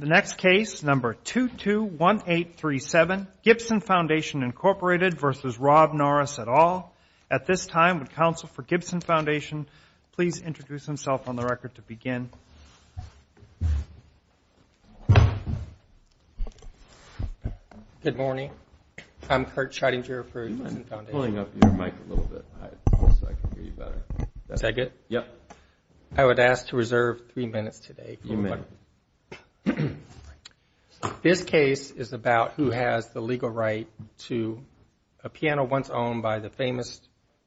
The next case, number 221837, Gibson Foundation, Inc. v. Rob Norris, et al. At this time, would counsel for Gibson Foundation please introduce himself on the record to begin? Good morning. I'm Kurt Schrodinger for Gibson Foundation. Pulling up your mic a little bit so I can hear you better. Is that good? Yep. I would ask to reserve three minutes today. You may. Thank you. This case is about who has the legal right to a piano once owned by the famous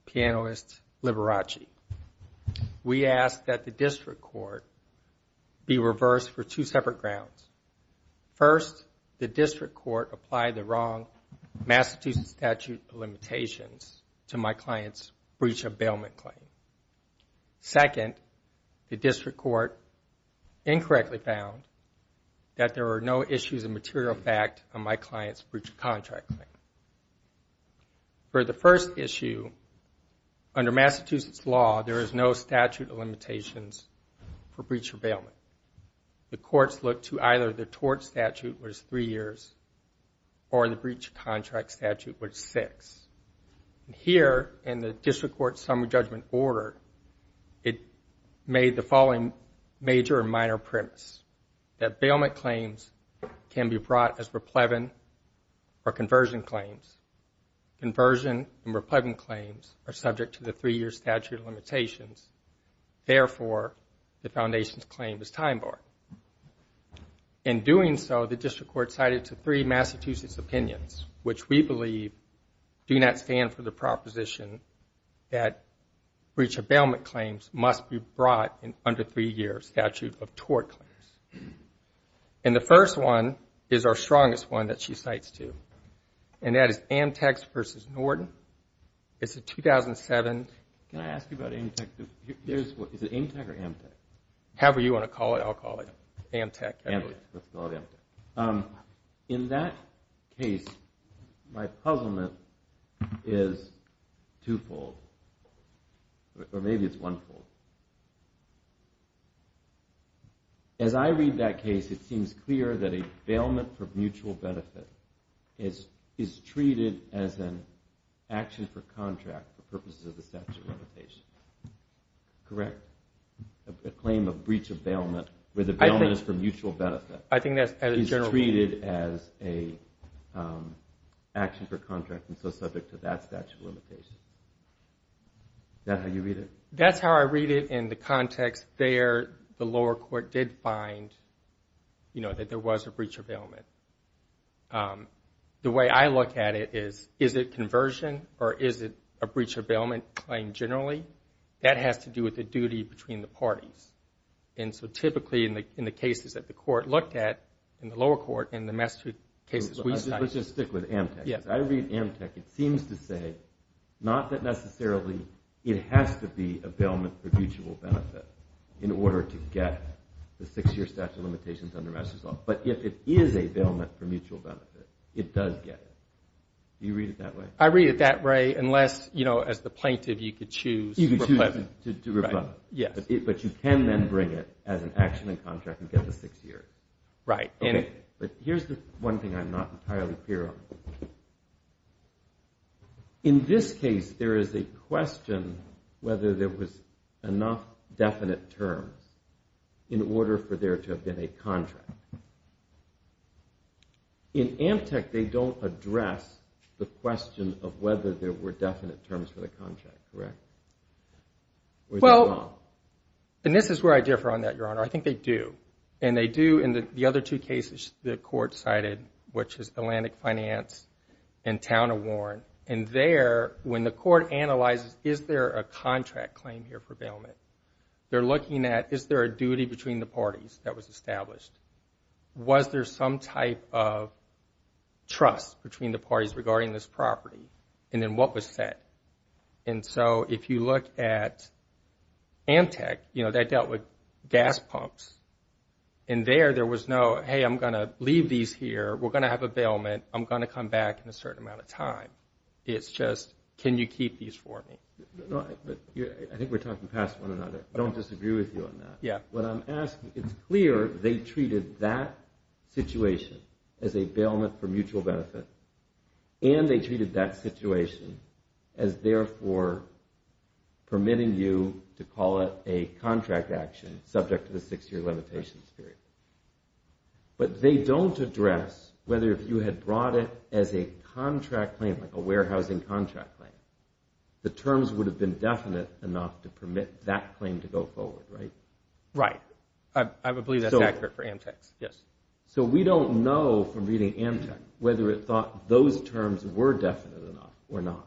pianist Liberace. We ask that the district court be reversed for two separate grounds. First, the district court apply the wrong Massachusetts statute of limitations to my client's breach of bailment claim. Second, the district court incorrectly found that there are no issues of material fact on my client's breach of contract claim. For the first issue, under Massachusetts law, there is no statute of limitations for breach of bailment. The courts look to either the tort statute, which is three years, or the breach of contract statute, which is six. Here, in the district court summary judgment order, it made the following major and minor premise that bailment claims can be brought as replevan or conversion claims. Conversion and replevan claims are subject to the three-year statute of limitations. Therefore, the foundation's claim is time barred. In doing so, the district court cited to three Massachusetts opinions, which we believe do not stand for the proposition that breach of bailment claims must be brought under three-year statute of tort claims. And the first one is our strongest one that she cites, too. And that is Amtec versus Norton. It's a 2007. Can I ask you about Amtec? Is it Amtec or Amtec? However you want to call it, I'll call it Amtec. Amtec. Let's call it Amtec. In that case, my puzzlement is twofold. Or maybe it's onefold. As I read that case, it seems clear that a bailment for mutual benefit is treated as an action for contract for purposes of the statute of limitations. Correct? A claim of breach of bailment where the bailment is for mutual benefit is treated as an action for contract and so subject to that statute of limitations. Is that how you read it? That's how I read it in the context there the lower court did find that there was a breach of bailment. The way I look at it is, is it conversion or is it a breach of bailment claim generally? That has to do with the duty between the parties. And so typically in the cases that the court looked at in the lower court and the master cases we studied. Let's just stick with Amtec. Yes. I read Amtec. It seems to say not that necessarily it has to be a bailment for mutual benefit in order to get the six-year statute of limitations under master's law. But if it is a bailment for mutual benefit, it does get it. Do you read it that way? I read it that way unless, you know, as the plaintiff you could choose to rebut. You could choose to rebut. Yes. But you can then bring it as an action in contract and get the six years. Right. Okay. But here's the one thing I'm not entirely clear on. In this case there is a question whether there was enough definite terms in order for there to have been a contract. In Amtec they don't address the question of whether there were definite terms for the contract, correct? Well, and this is where I differ on that, Your Honor. I think they do. And they do in the other two cases the court cited, which is Atlantic Finance and Town of Warren. And there when the court analyzes is there a contract claim here for bailment, they're looking at is there a duty between the parties that was established? Was there some type of trust between the parties regarding this property? And then what was set? And so if you look at Amtec, you know, they dealt with gas pumps. And there there was no, hey, I'm going to leave these here, we're going to have a bailment, I'm going to come back in a certain amount of time. It's just can you keep these for me? I think we're talking past one another. I don't disagree with you on that. Yeah. What I'm asking, it's clear they treated that situation as a bailment for mutual benefit. And they treated that situation as therefore permitting you to call it a contract action subject to the six-year limitations period. But they don't address whether if you had brought it as a contract claim, like a warehousing contract claim, the terms would have been definite enough to permit that claim to go forward, right? Right. I would believe that's accurate for Amtec. Yes. So we don't know from reading Amtec whether it thought those terms were definite enough or not.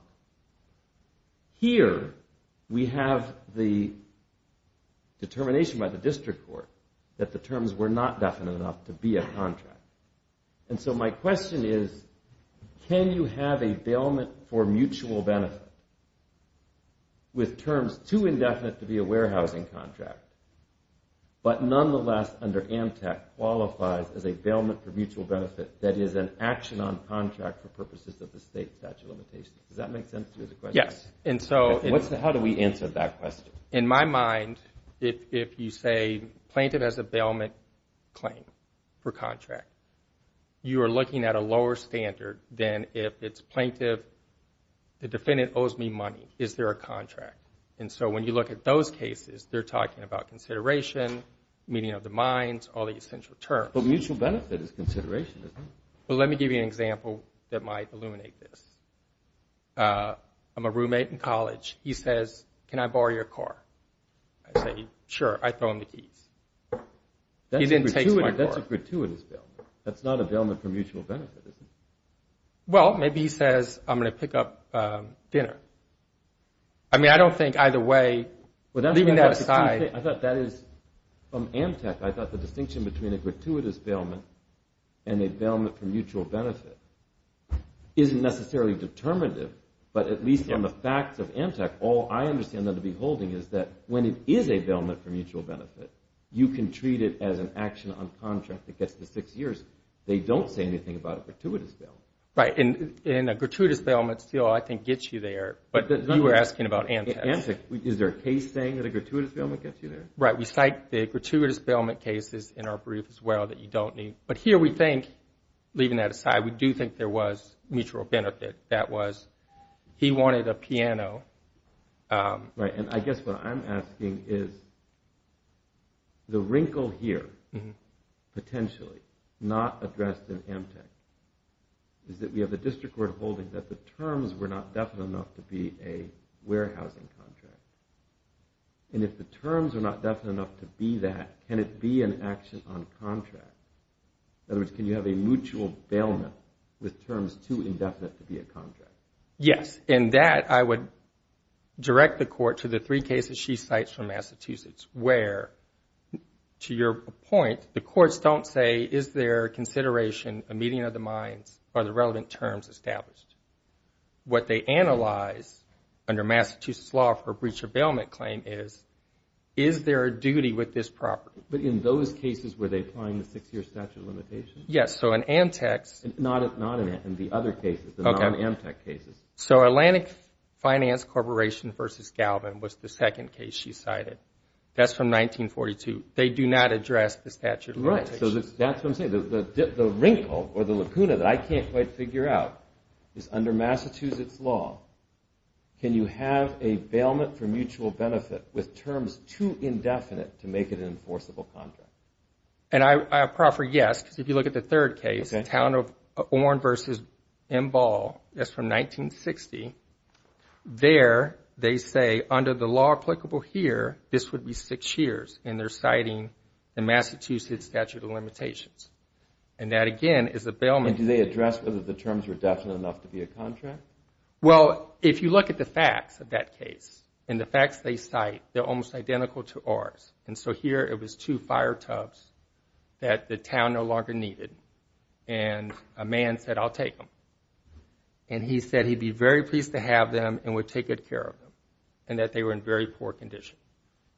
Here we have the determination by the district court that the terms were not definite enough to be a contract. And so my question is, can you have a bailment for mutual benefit with terms too indefinite to be a warehousing contract, but nonetheless under Amtec qualifies as a bailment for mutual benefit that is an action on contract for purposes of the state statute of limitations? Does that make sense to you as a question? Yes. How do we answer that question? In my mind, if you say plaintiff has a bailment claim for contract, you are looking at a lower standard than if it's plaintiff, the defendant owes me money, is there a contract? And so when you look at those cases, they're talking about consideration, meeting of the minds, all the essential terms. But mutual benefit is consideration, isn't it? Well, let me give you an example that might illuminate this. I'm a roommate in college. He says, can I borrow your car? I say, sure. I throw him the keys. He then takes my car. That's a gratuitous bailment. That's not a bailment for mutual benefit, is it? Well, maybe he says, I'm going to pick up dinner. I mean, I don't think either way, leaving that aside. I thought that is from Amtec. I thought the distinction between a gratuitous bailment and a bailment for mutual benefit isn't necessarily determinative. But at least from the facts of Amtec, all I understand them to be holding is that when it is a bailment for mutual benefit, you can treat it as an action on contract that gets to six years. They don't say anything about a gratuitous bailment. Right. And a gratuitous bailment still, I think, gets you there. But you were asking about Amtec. Amtec. Is there a case saying that a gratuitous bailment gets you there? Right. We cite the gratuitous bailment cases in our brief as well that you don't need. But here we think, leaving that aside, we do think there was mutual benefit. That was, he wanted a piano. Right. And I guess what I'm asking is, the wrinkle here, potentially, not addressed in Amtec, is that we have the district court holding that the terms were not definite enough to be a warehousing contract. And if the terms are not definite enough to be that, can it be an action on contract? In other words, can you have a mutual bailment with terms too indefinite to be a contract? Yes. And that, I would direct the court to the three cases she cites from Massachusetts, where, to your point, the courts don't say, is there a consideration, a meeting of the minds, are the relevant terms established? What they analyze under Massachusetts law for breach of bailment claim is, is there a duty with this property? But in those cases, were they applying the six-year statute of limitations? Yes. So in Amtec's... Not in the other cases, the non-Amtec cases. So Atlantic Finance Corporation v. Galvin was the second case she cited. That's from 1942. Right. So that's what I'm saying. The wrinkle or the lacuna that I can't quite figure out is, under Massachusetts law, can you have a bailment for mutual benefit with terms too indefinite to make it an enforceable contract? And I proffer yes, because if you look at the third case, Town of Oren v. Embal, that's from 1960. There, they say, under the law applicable here, this would be six years, and they're And that, again, is a bailment... And do they address whether the terms were definite enough to be a contract? Well, if you look at the facts of that case, and the facts they cite, they're almost identical to ours. And so here, it was two fire tubs that the town no longer needed, and a man said, I'll take them. And he said he'd be very pleased to have them and would take good care of them, and that they were in very poor condition.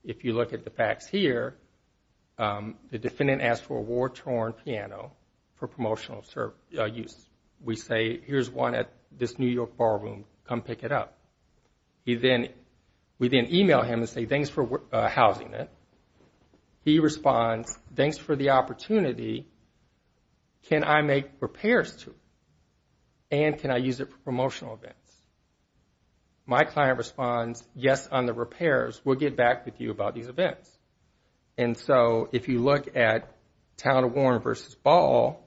If you look at the facts here, the defendant asked for a war-torn piano for promotional use. We say, here's one at this New York ballroom. Come pick it up. We then email him and say, thanks for housing it. He responds, thanks for the opportunity. Can I make repairs to it? And can I use it for promotional events? My client responds, yes, on the repairs. We'll get back with you about these events. And so if you look at Town of Warren versus Ball,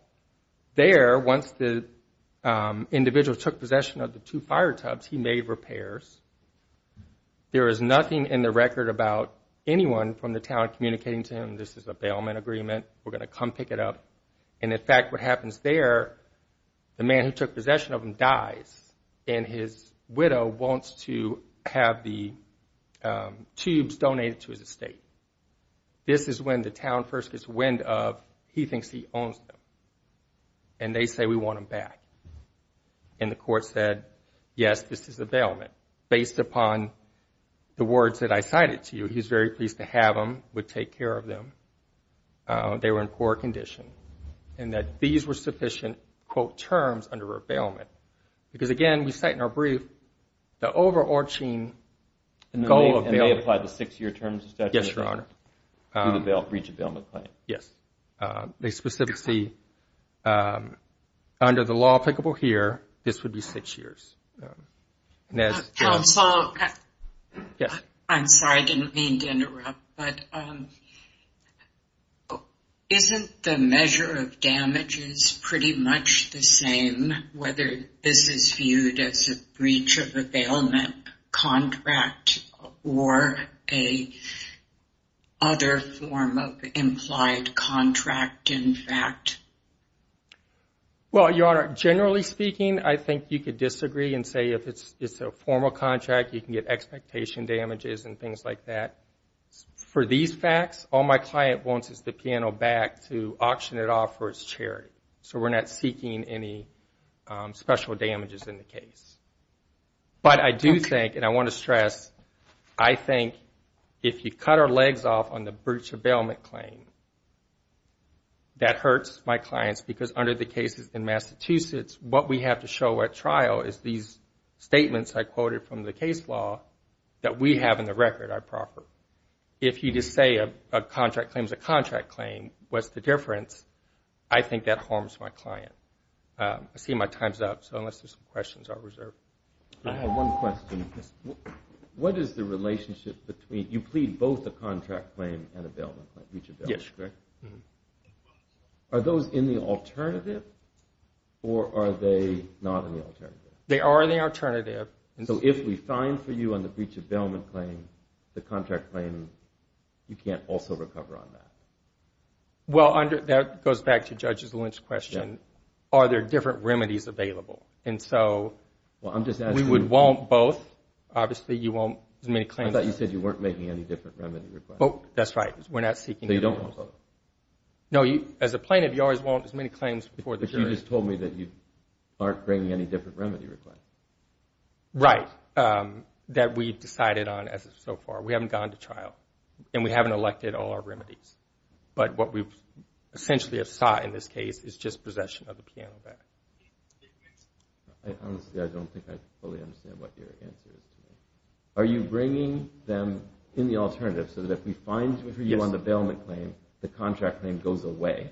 there, once the individual took possession of the two fire tubs, he made repairs. There is nothing in the record about anyone from the town communicating to him, this is a bailment agreement, we're going to come pick it up. And, in fact, what happens there, the man who took possession of them dies, and his widow wants to have the tubes donated to his estate. This is when the town first gets wind of he thinks he owns them, and they say, we want them back. And the court said, yes, this is a bailment. Based upon the words that I cited to you, he's very pleased to have them, would take care of them. They were in poor condition, and that these were sufficient, quote, terms under a bailment. Because, again, we cite in our brief the overarching goal of bailment. And they applied the six-year terms of statute? Yes, Your Honor. To reach a bailment claim? Yes. They specifically, under the law applicable here, this would be six years. Counsel, I'm sorry, I didn't mean to interrupt, but isn't the measure of damages pretty much the same, whether this is viewed as a breach of a bailment contract or a other form of implied contract, in fact? Well, Your Honor, generally speaking, I think you could disagree and say if it's a formal contract, you can get expectation damages and things like that. For these facts, all my client wants is the piano back to auction it off for his charity. So we're not seeking any special damages in the case. But I do think, and I want to stress, I think if you cut our legs off on the breach of bailment claim, that hurts my clients because under the cases in Massachusetts, what we have to show at trial is these statements I quoted from the case law that we have in the record are proper. If you just say a contract claim is a contract claim, what's the difference? I think that harms my client. I see my time's up, so unless there's some questions, I'll reserve. I have one question. What is the relationship between you plead both a contract claim and a bailment claim, breach of bailment claim? Are those in the alternative, or are they not in the alternative? They are in the alternative. So if we fine for you on the breach of bailment claim, the contract claim, you can't also recover on that? Well, that goes back to Judge's Lynch question. Are there different remedies available? And so we would want both. Obviously, you won't submit a claim. I thought you said you weren't making any different remedy requests. Oh, that's right. We're not seeking those. So you don't want both? No, as a plaintiff, you always want as many claims before the jury. But you just told me that you aren't bringing any different remedy requests. Right, that we've decided on so far. We haven't gone to trial, and we haven't elected all our remedies. But what we essentially have sought in this case is just possession of the piano back. Honestly, I don't think I fully understand what your answer is to me. Are you bringing them in the alternative so that if we fine for you on the bailment claim, the contract claim goes away?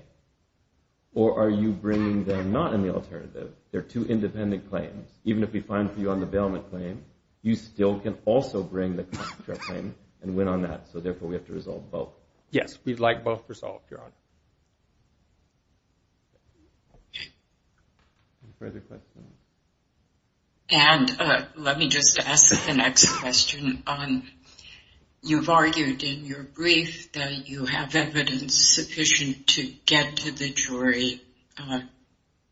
Or are you bringing them not in the alternative? They're two independent claims. Even if we fine for you on the bailment claim, you still can also bring the contract claim and win on that, so therefore we have to resolve both. Yes, we'd like both resolved, Your Honor. Any further questions? And let me just ask the next question. You've argued in your brief that you have evidence sufficient to get to the jury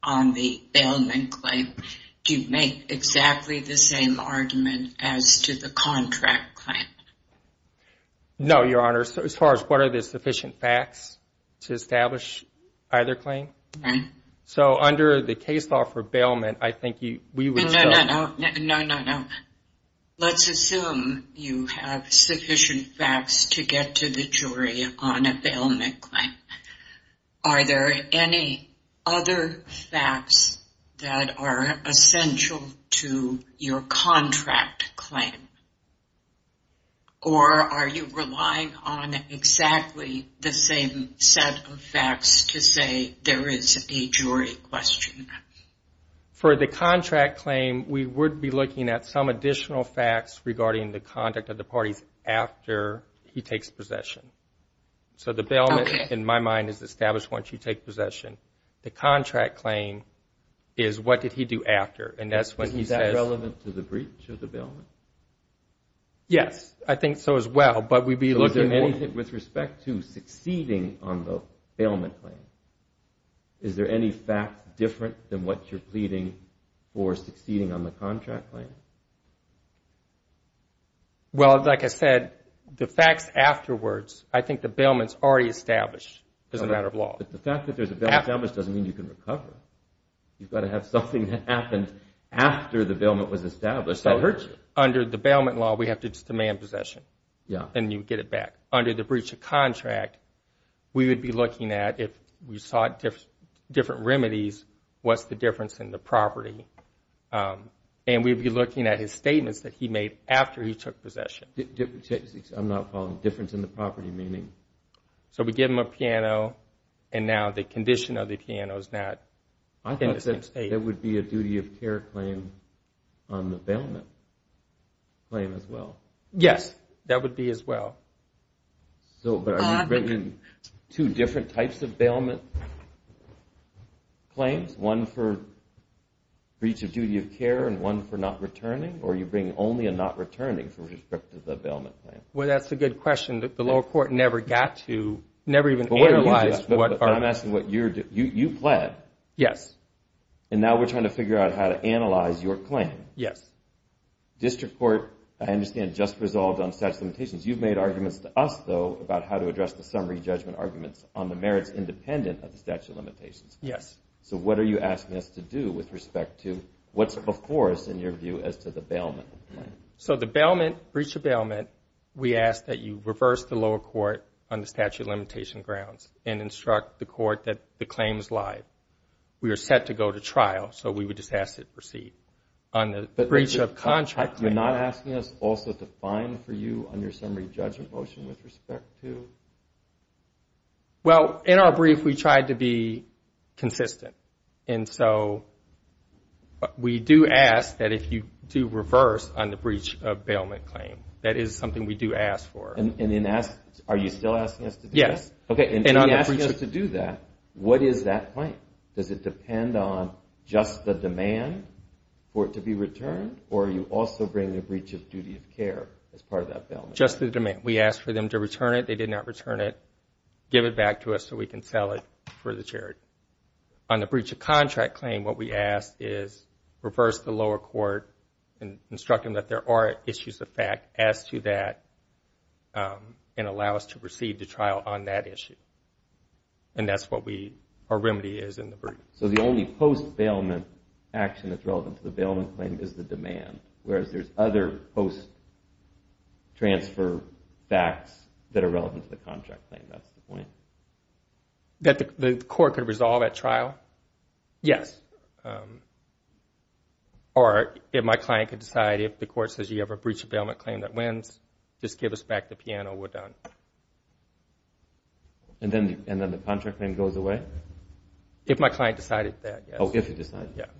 on the bailment claim. Do you make exactly the same argument as to the contract claim? No, Your Honor, as far as what are the sufficient facts to establish either claim. So under the case law for bailment, I think we would still. No, no, no. Let's assume you have sufficient facts to get to the jury on a bailment claim. Are there any other facts that are essential to your contract claim? Or are you relying on exactly the same set of facts to say there is a jury question? For the contract claim, we would be looking at some additional facts regarding the conduct of the parties after he takes possession. So the bailment, in my mind, is established once you take possession. The contract claim is what did he do after, and that's when he says. Is that relevant to the breach of the bailment? Yes, I think so as well, but we'd be looking more. With respect to succeeding on the bailment claim, is there any fact different than what you're pleading for succeeding on the contract claim? Well, like I said, the facts afterwards, I think the bailment's already established as a matter of law. But the fact that there's a bailment established doesn't mean you can recover. You've got to have something that happened after the bailment was established that hurts you. Under the bailment law, we have to just demand possession, and you get it back. Under the breach of contract, we would be looking at if we sought different remedies, what's the difference in the property? And we'd be looking at his statements that he made after he took possession. I'm not following. Difference in the property meaning? So we give him a piano, and now the condition of the piano is not in the same state. I thought that there would be a duty of care claim on the bailment claim as well. Yes, that would be as well. But are you bringing two different types of bailment claims, one for breach of duty of care and one for not returning, or are you bringing only a not returning for respect to the bailment claim? Well, that's a good question that the lower court never got to, never even analyzed. I'm asking what you're doing. You pled. Yes. And now we're trying to figure out how to analyze your claim. Yes. District Court, I understand, just resolved on statute of limitations. You've made arguments to us, though, about how to address the summary judgment arguments on the merits independent of the statute of limitations. Yes. So what are you asking us to do with respect to what's before us in your view as to the bailment? So the bailment, breach of bailment, we ask that you reverse the lower court on the statute of limitation grounds and instruct the court that the claim is live. We are set to go to trial, so we would just ask that it proceed. On the breach of contract, you're not asking us also to fine for you on your summary judgment motion with respect to? Well, in our brief, we tried to be consistent. And so we do ask that if you do reverse on the breach of bailment claim. That is something we do ask for. Are you still asking us to do that? Yes. Okay. If you ask us to do that, what is that claim? Does it depend on just the demand for it to be returned, or you also bring the breach of duty of care as part of that bailment? Just the demand. We ask for them to return it. They did not return it. Give it back to us so we can sell it for the charity. On the breach of contract claim, what we ask is reverse the lower court and instruct them that there are issues of fact as to that and allow us to proceed to trial on that issue. And that's what our remedy is in the brief. So the only post-bailment action that's relevant to the bailment claim is the demand, whereas there's other post-transfer facts that are relevant to the contract claim. That's the point. That the court could resolve at trial? Yes. Or if my client could decide, if the court says you have a breach of bailment claim that wins, just give us back the piano, we're done. And then the contract claim goes away? If my client decided that, yes. Oh, if he decided that.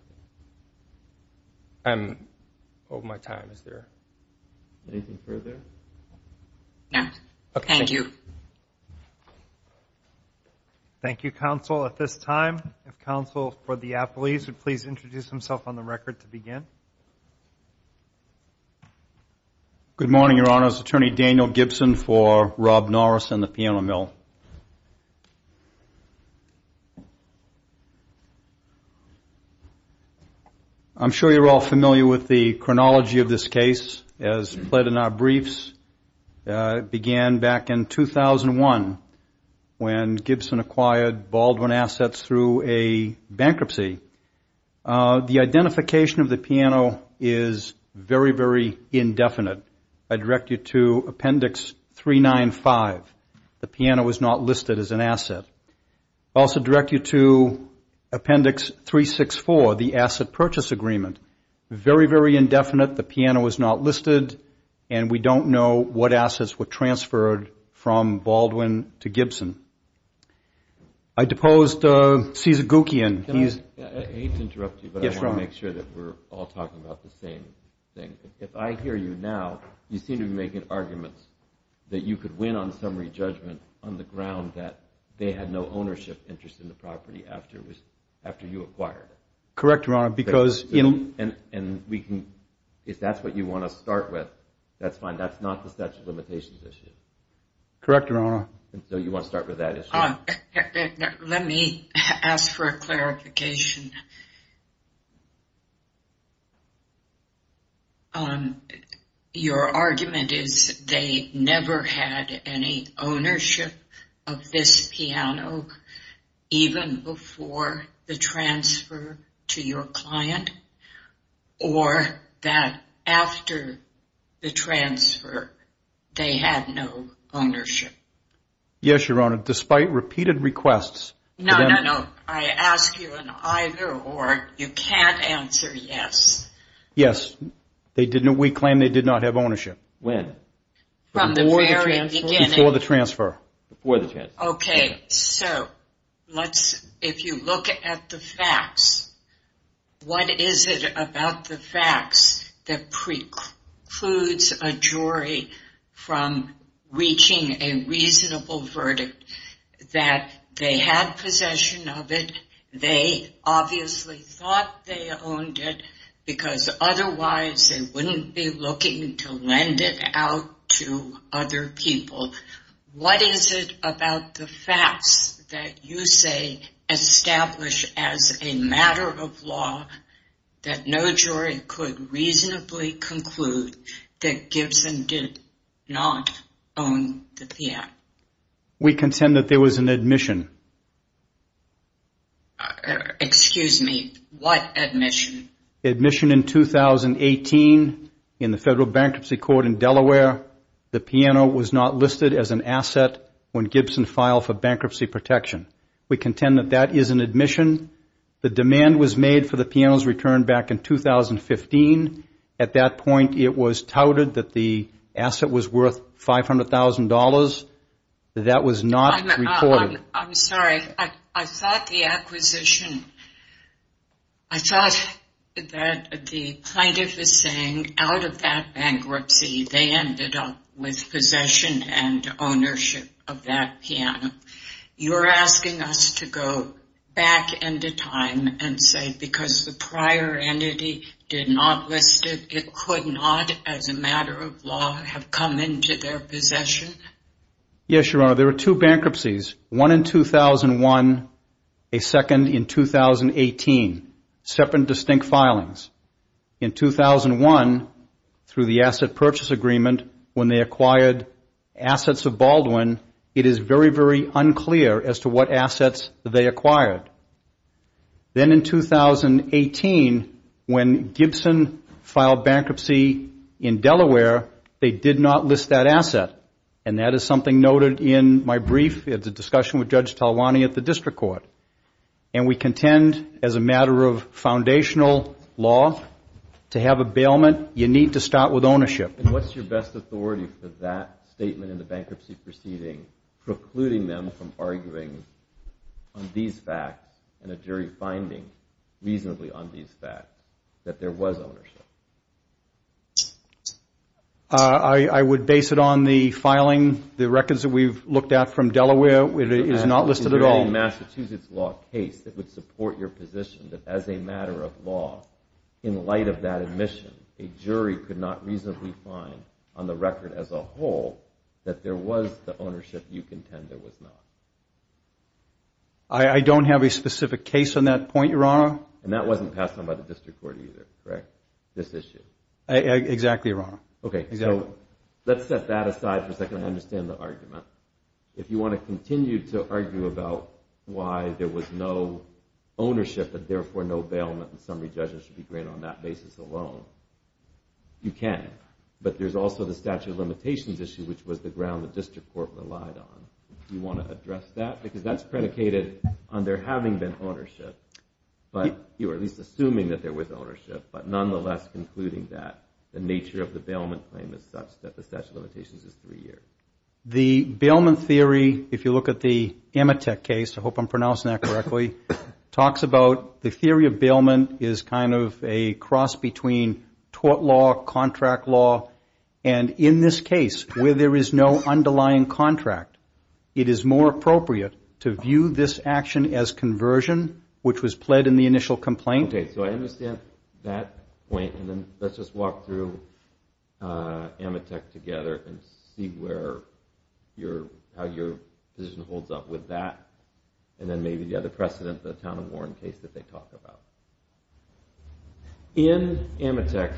Yeah. I'm over my time. Is there anything further? No. Okay. Thank you. Thank you, counsel. At this time, if counsel for the appellees Good morning, Your Honors. I'm attorney Daniel Gibson for Rob Norris and the Piano Mill. I'm sure you're all familiar with the chronology of this case, as pled in our briefs. It began back in 2001 when Gibson acquired Baldwin Assets through a bankruptcy. The identification of the piano is very, very indefinite. I direct you to Appendix 395. The piano was not listed as an asset. I also direct you to Appendix 364, the asset purchase agreement. Very, very indefinite. The piano was not listed, and we don't know what assets were transferred from Baldwin to Gibson. I deposed Cesar Guckian. I hate to interrupt you, but I want to make sure that we're all talking about the same thing. If I hear you now, you seem to be making arguments that you could win on summary judgment on the ground that they had no ownership interest in the property after you acquired it. Correct, Your Honor. And if that's what you want to start with, that's fine. That's not the statute of limitations issue. Correct, Your Honor. So you want to start with that issue? Let me ask for a clarification. Your argument is they never had any ownership of this piano even before the transfer to your client, or that after the transfer, they had no ownership? Yes, Your Honor, despite repeated requests. No, no, no. I ask you an either or you can't answer yes. Yes, we claim they did not have ownership. When? From the very beginning. Before the transfer. Before the transfer. Okay, so if you look at the facts, what is it about the facts that precludes a jury from reaching a reasonable verdict that they had possession of it, they obviously thought they owned it, because otherwise they wouldn't be looking to lend it out to other people? What is it about the facts that you say establish as a matter of law that no jury could reasonably conclude that Gibson did not own the piano? We contend that there was an admission. Excuse me, what admission? Admission in 2018 in the Federal Bankruptcy Court in Delaware. The piano was not listed as an asset when Gibson filed for bankruptcy protection. We contend that that is an admission. The demand was made for the piano's return back in 2015. At that point, it was touted that the asset was worth $500,000. That was not recorded. I'm sorry. I thought the acquisition, I thought that the plaintiff is saying out of that bankruptcy, they ended up with possession and ownership of that piano. You're asking us to go back into time and say because the prior entity did not list it, it could not, as a matter of law, have come into their possession? Yes, Your Honor. There were two bankruptcies, one in 2001, a second in 2018, separate and distinct filings. In 2001, through the asset purchase agreement, when they acquired assets of Baldwin, it is very, very unclear as to what assets they acquired. Then in 2018, when Gibson filed bankruptcy in Delaware, they did not list that asset. And that is something noted in my brief at the discussion with Judge Talwani at the district court. And we contend, as a matter of foundational law, to have a bailment, you need to start with ownership. And what's your best authority for that statement in the bankruptcy proceeding, precluding them from arguing on these facts and a jury finding reasonably on these facts, that there was ownership? I would base it on the filing, the records that we've looked at from Delaware. It is not listed at all. In the Massachusetts law case, it would support your position that as a matter of law, in light of that admission, a jury could not reasonably find on the record as a whole that there was the ownership you contend there was not. I don't have a specific case on that point, Your Honor. And that wasn't passed on by the district court either, correct, this issue? Exactly, Your Honor. Okay, so let's set that aside for a second and understand the argument. If you want to continue to argue about why there was no ownership and, therefore, no bailment and summary judgment should be granted on that basis alone, you can. But there's also the statute of limitations issue, which was the ground the district court relied on. Do you want to address that? Because that's predicated on there having been ownership, or at least assuming that there was ownership, but nonetheless concluding that the nature of the bailment claim is such that the statute of limitations is three years. The bailment theory, if you look at the Amitek case, I hope I'm pronouncing that correctly, talks about the theory of bailment is kind of a cross between tort law, contract law. And in this case, where there is no underlying contract, it is more appropriate to view this action as conversion, which was pled in the initial complaint. Okay, so I understand that point. And then let's just walk through Amitek together and see how your position holds up with that. And then maybe the other precedent, the Town & Warren case that they talk about. In Amitek,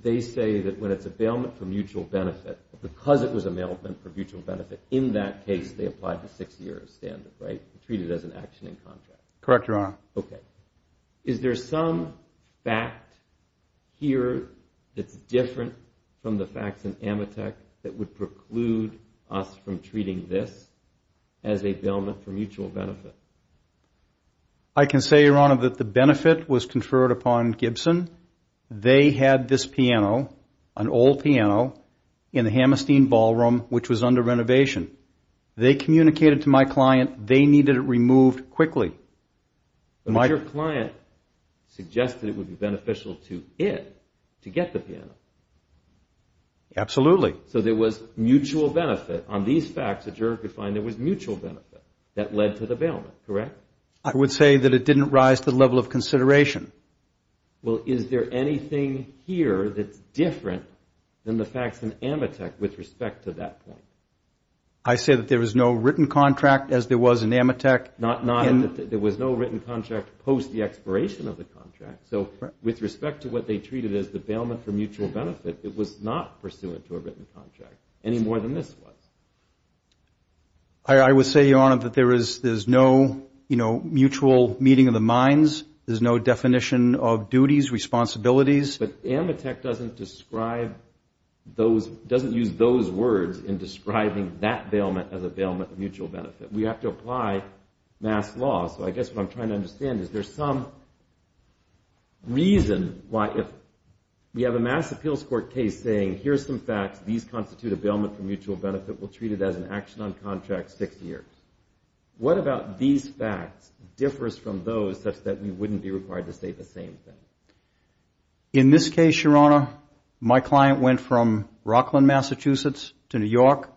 they say that when it's a bailment for mutual benefit, because it was a bailment for mutual benefit, in that case they applied the six-year standard, right? Treated as an action in contract. Correct, Your Honor. Okay. Is there some fact here that's different from the facts in Amitek that would preclude us from treating this as a bailment for mutual benefit? I can say, Your Honor, that the benefit was conferred upon Gibson. They had this piano, an old piano, in the Hammerstein Ballroom, which was under renovation. They communicated to my client they needed it removed quickly. But your client suggested it would be beneficial to it to get the piano. Absolutely. So there was mutual benefit. On these facts, the juror could find there was mutual benefit that led to the bailment. Correct? I would say that it didn't rise to the level of consideration. Well, is there anything here that's different than the facts in Amitek with respect to that point? I say that there was no written contract as there was in Amitek. There was no written contract post the expiration of the contract. So with respect to what they treated as the bailment for mutual benefit, it was not pursuant to a written contract any more than this was. I would say, Your Honor, that there's no mutual meeting of the minds. There's no definition of duties, responsibilities. But Amitek doesn't use those words in describing that bailment as a bailment for mutual benefit. We have to apply mass law. So I guess what I'm trying to understand is there's some reason why if we have a mass appeals court case saying, here's some facts. These constitute a bailment for mutual benefit. We'll treat it as an action on contract six years. What about these facts differs from those such that we wouldn't be required to say the same thing? In this case, Your Honor, my client went from Rockland, Massachusetts, to New York.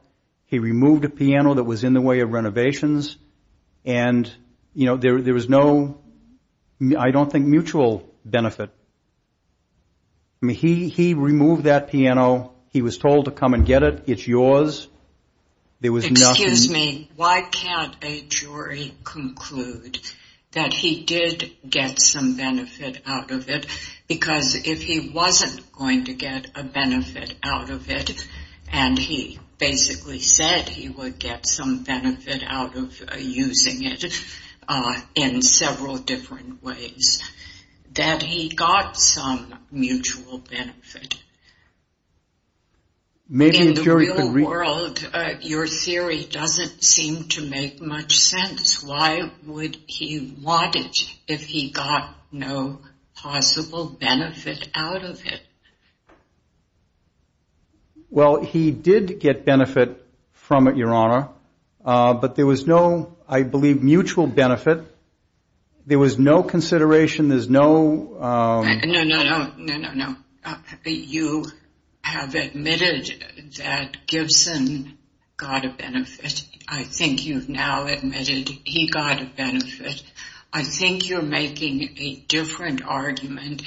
He removed a piano that was in the way of renovations. And, you know, there was no, I don't think, mutual benefit. I mean, he removed that piano. He was told to come and get it. It's yours. There was nothing. Excuse me. Why can't a jury conclude that he did get some benefit out of it? Because if he wasn't going to get a benefit out of it, and he basically said he would get some benefit out of using it in several different ways, that he got some mutual benefit. In the real world, your theory doesn't seem to make much sense. Why would he want it if he got no possible benefit out of it? Well, he did get benefit from it, Your Honor. But there was no, I believe, mutual benefit. There was no consideration. There's no... No, no, no, no, no, no. You have admitted that Gibson got a benefit. I think you've now admitted he got a benefit. I think you're making a different argument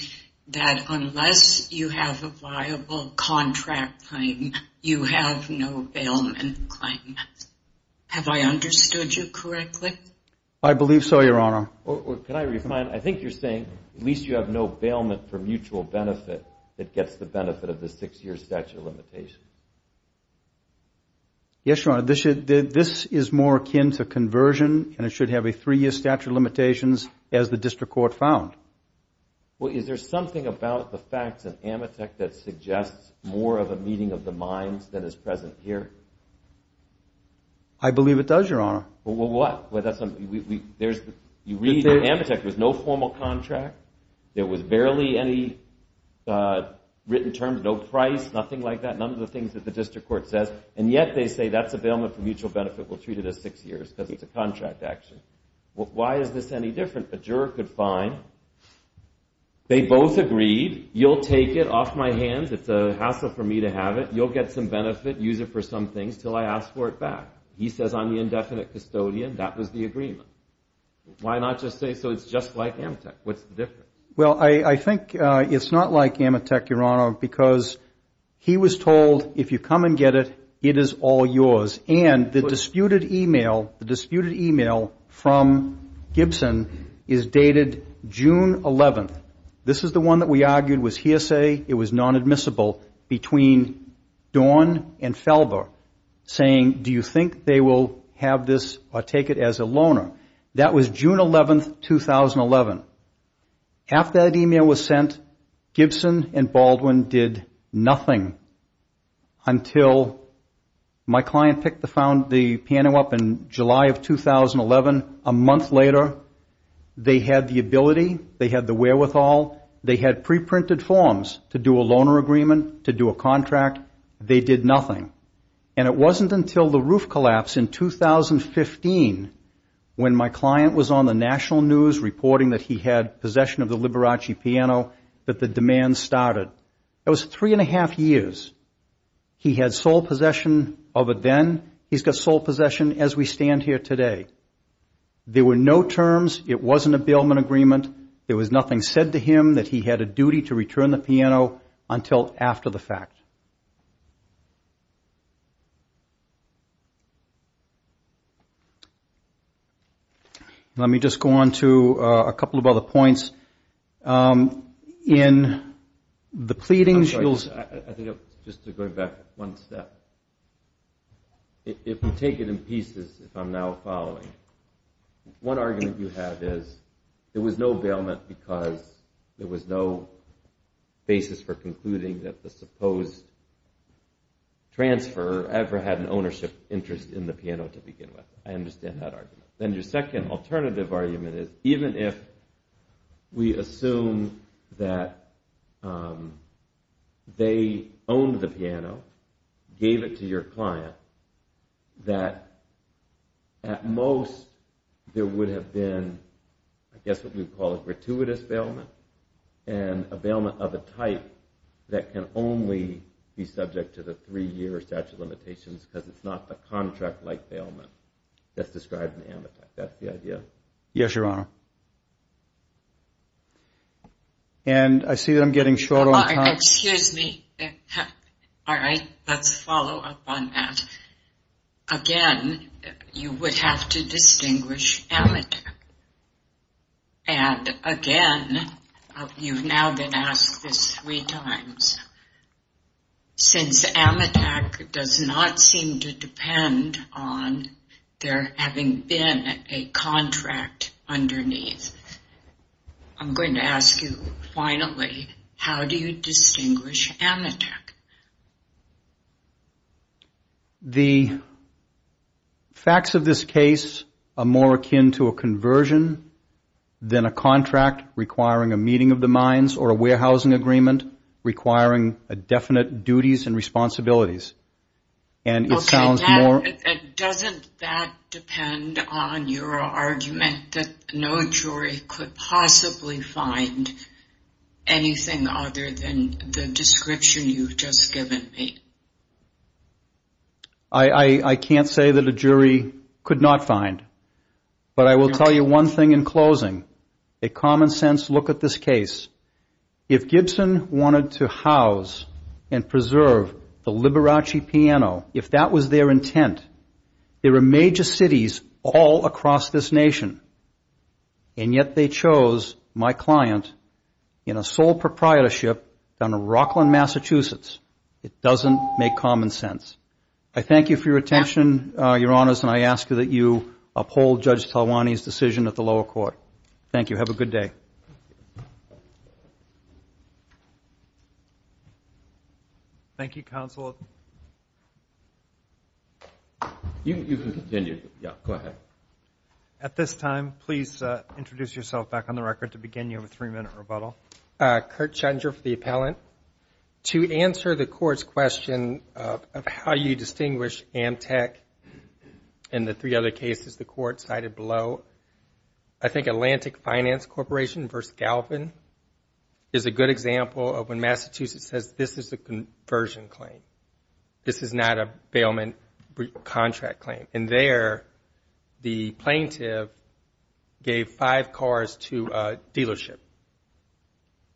that unless you have a viable contract claim, you have no bailment claim. Have I understood you correctly? I believe so, Your Honor. Can I remind, I think you're saying at least you have no bailment for mutual benefit that gets the benefit of the six-year statute of limitations. Yes, Your Honor. This is more akin to conversion, and it should have a three-year statute of limitations as the district court found. Well, is there something about the facts of Amitek that suggests more of a meeting of the minds than is present here? I believe it does, Your Honor. Well, what? You read Amitek, there's no formal contract. There was barely any written terms, no price, nothing like that. None of the things that the district court says, and yet they say that's a bailment for mutual benefit. We'll treat it as six years because it's a contract action. Why is this any different? A juror could find they both agreed, you'll take it off my hands. It's a hassle for me to have it. You'll get some benefit, use it for some things until I ask for it back. He says I'm the indefinite custodian. That was the agreement. What's the difference? Well, I think it's not like Amitek, Your Honor, because he was told if you come and get it, it is all yours. And the disputed e-mail, the disputed e-mail from Gibson is dated June 11th. This is the one that we argued was hearsay. It was non-admissible between Dorn and Felber saying do you think they will have this or take it as a loaner? That was June 11th, 2011. After that e-mail was sent, Gibson and Baldwin did nothing until my client picked the piano up in July of 2011. A month later, they had the ability, they had the wherewithal, they had pre-printed forms to do a loaner agreement, to do a contract. They did nothing. And it wasn't until the roof collapse in 2015 when my client was on the national news reporting that he had possession of the Liberace piano that the demand started. That was three and a half years. He had sole possession of it then. He's got sole possession as we stand here today. There were no terms. It wasn't a bailment agreement. There was nothing said to him that he had a duty to return the piano until after the fact. Let me just go on to a couple of other points. In the pleadings, you'll see. I think just to go back one step. If we take it in pieces, if I'm now following, one argument you have is there was no bailment because there was no basis for concluding that the supposed transfer ever had an ownership interest in the piano to begin with. I understand that argument. Then your second alternative argument is even if we assume that they owned the piano, gave it to your client, that at most there would have been I guess what we would call a gratuitous bailment and a bailment of a type that can only be subject to the three-year statute of limitations because it's not the contract-like bailment that's described in the amortized. That's the idea. Yes, Your Honor. I see that I'm getting short on time. Excuse me. All right. Let's follow up on that. Again, you would have to distinguish Amitak. Again, you've now been asked this three times. Since Amitak does not seem to depend on there having been a contract underneath, I'm going to ask you finally, how do you distinguish Amitak? The facts of this case are more akin to a conversion than a contract requiring a meeting of the minds or a warehousing agreement requiring definite duties and responsibilities. Okay. Doesn't that depend on your argument that no jury could possibly find anything other than the description you've just given me? I can't say that a jury could not find. But I will tell you one thing in closing, a common sense look at this case. If Gibson wanted to house and preserve the Liberace Piano, if that was their intent, there are major cities all across this nation, and yet they chose my client in a sole proprietorship down in Rockland, Massachusetts. It doesn't make common sense. I thank you for your attention, Your Honors, and I ask that you uphold Judge Talwani's decision at the lower court. Thank you. Have a good day. Thank you, Counsel. You can continue. Go ahead. At this time, please introduce yourself back on the record to begin your three-minute rebuttal. Kurt Schoenger for the appellant. To answer the Court's question of how you distinguish Amitak and the three other cases the Court cited below, I think Atlantic Finance Corporation v. Galvin is a good example of when Massachusetts says, this is a conversion claim. This is not a bailment contract claim. And there, the plaintiff gave five cars to a dealership,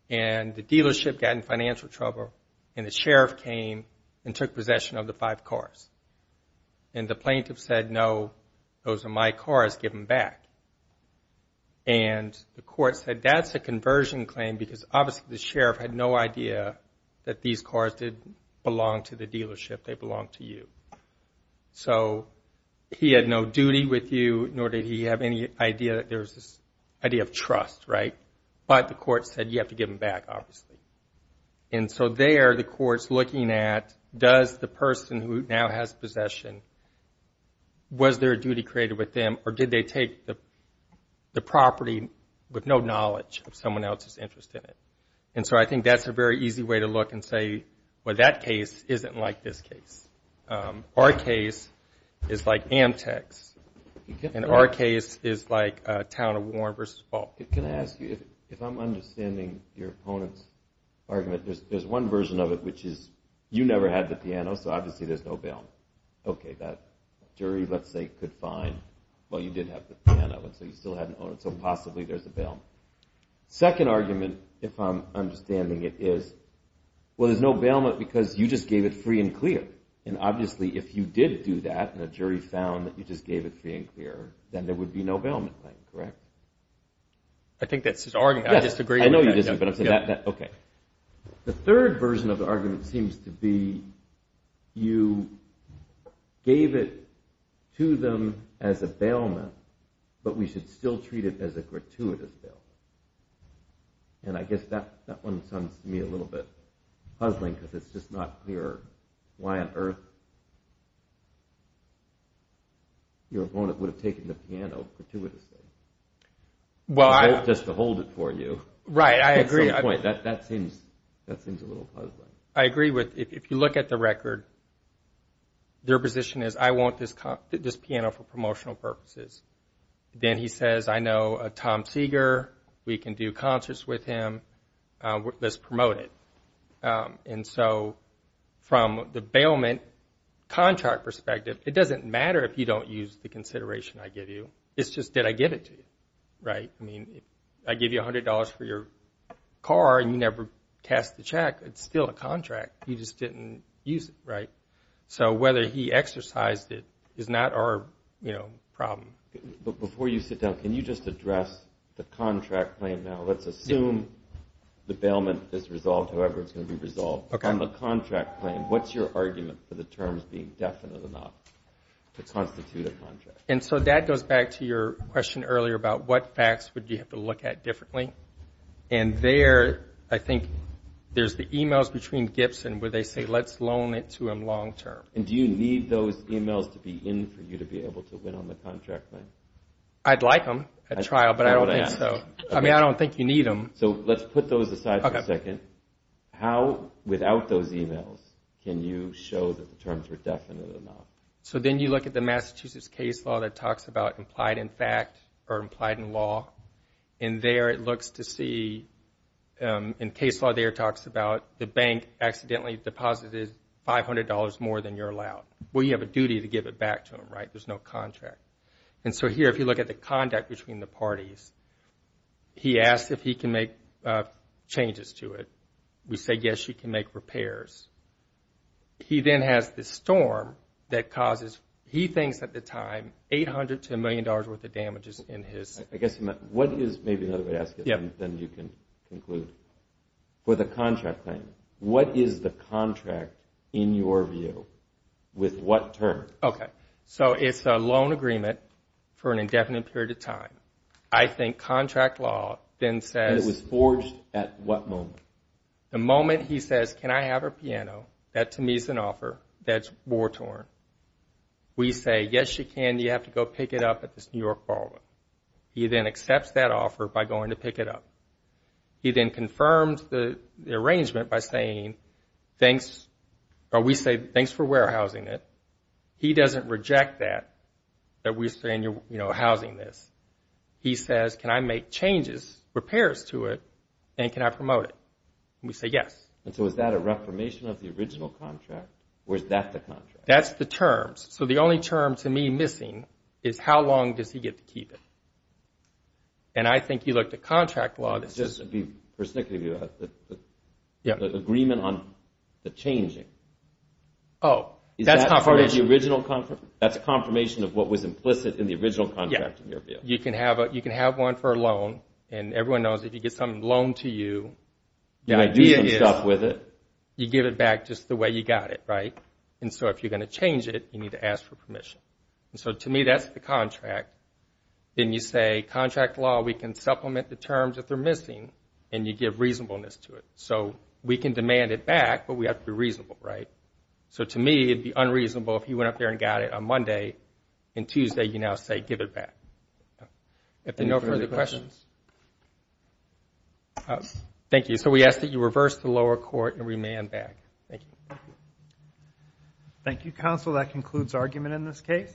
and the dealership got in financial trouble, and the sheriff came and took possession of the five cars. And the plaintiff said, no, those are my cars. Give them back. And the Court said, that's a conversion claim because, obviously, the sheriff had no idea that these cars didn't belong to the dealership. They belonged to you. So he had no duty with you, nor did he have any idea that there was this idea of trust, right? But the Court said, you have to give them back, obviously. And so there, the Court's looking at, does the person who now has possession, was there a duty created with them, or did they take the property with no knowledge of someone else's interest in it? And so I think that's a very easy way to look and say, well, that case isn't like this case. Our case is like Amtec's, and our case is like Town of Warren v. Falk. Can I ask you, if I'm understanding your opponent's argument, there's one version of it, which is you never had the piano, so obviously there's no bail. Okay, that jury, let's say, could find, well, you did have the piano, and so you still hadn't owned it, so possibly there's a bail. Second argument, if I'm understanding it, is, well, there's no bailment because you just gave it free and clear. And obviously, if you did do that, and the jury found that you just gave it free and clear, then there would be no bailment claim, correct? I think that's his argument. I disagree. I know you disagree, but I'm saying that, okay. The third version of the argument seems to be you gave it to them as a bailment, but we should still treat it as a gratuitous bailment. And I guess that one sounds to me a little bit puzzling because it's just not clear why on earth your opponent would have taken the piano gratuitously just to hold it for you. Right, I agree. At some point, that seems a little puzzling. I agree. If you look at the record, their position is, I want this piano for promotional purposes. Then he says, I know a Tom Seeger, we can do concerts with him, let's promote it. And so from the bailment contract perspective, it doesn't matter if you don't use the consideration I give you. It's just did I give it to you, right? I mean, I give you $100 for your car and you never cast the check. It's still a contract. You just didn't use it, right? So whether he exercised it is not our problem. Before you sit down, can you just address the contract claim now? Let's assume the bailment is resolved however it's going to be resolved. On the contract claim, what's your argument for the terms being definite enough to constitute a contract? And so that goes back to your question earlier about what facts would you have to look at differently. And there, I think there's the emails between Gibson where they say let's loan it to him long term. And do you need those emails to be in for you to be able to win on the contract claim? I'd like them at trial, but I don't think so. I mean, I don't think you need them. So let's put those aside for a second. How, without those emails, can you show that the terms were definite enough? So then you look at the Massachusetts case law that talks about implied in fact or implied in law. And there it looks to see, in case law there it talks about the bank accidentally deposited $500 more than you're allowed. Well, you have a duty to give it back to them, right? There's no contract. And so here, if you look at the conduct between the parties, he asks if he can make changes to it. We say, yes, you can make repairs. He then has this storm that causes, he thinks at the time, $800 to $1 million worth of damages in his. I guess what is, maybe another way to ask it, then you can conclude. For the contract claim, what is the contract in your view? With what terms? Okay. So it's a loan agreement for an indefinite period of time. I think contract law then says. It was forged at what moment? The moment he says, can I have a piano? That to me is an offer that's war torn. We say, yes, you can. You have to go pick it up at this New York ballroom. He then accepts that offer by going to pick it up. He then confirms the arrangement by saying, thanks, or we say, thanks for warehousing it. He doesn't reject that, that we're saying you're housing this. He says, can I make changes, repairs to it, and can I promote it? And we say, yes. And so is that a reformation of the original contract, or is that the contract? That's the terms. So the only term to me missing is how long does he get to keep it? And I think you look to contract law. Just to be persnickety, the agreement on the changing. Oh, that's confirmation. That's confirmation of what was implicit in the original contract in your bill. You can have one for a loan, and everyone knows if you get something loaned to you. You might do some stuff with it. You give it back just the way you got it, right? And so if you're going to change it, you need to ask for permission. And so to me, that's the contract. Then you say, contract law, we can supplement the terms if they're missing, and you give reasonableness to it. So we can demand it back, but we have to be reasonable, right? So to me, it would be unreasonable if he went up there and got it on Monday, and Tuesday you now say give it back. If there are no further questions. Thank you. So we ask that you reverse the lower court and remand back. Thank you. Thank you, counsel. That concludes argument in this case.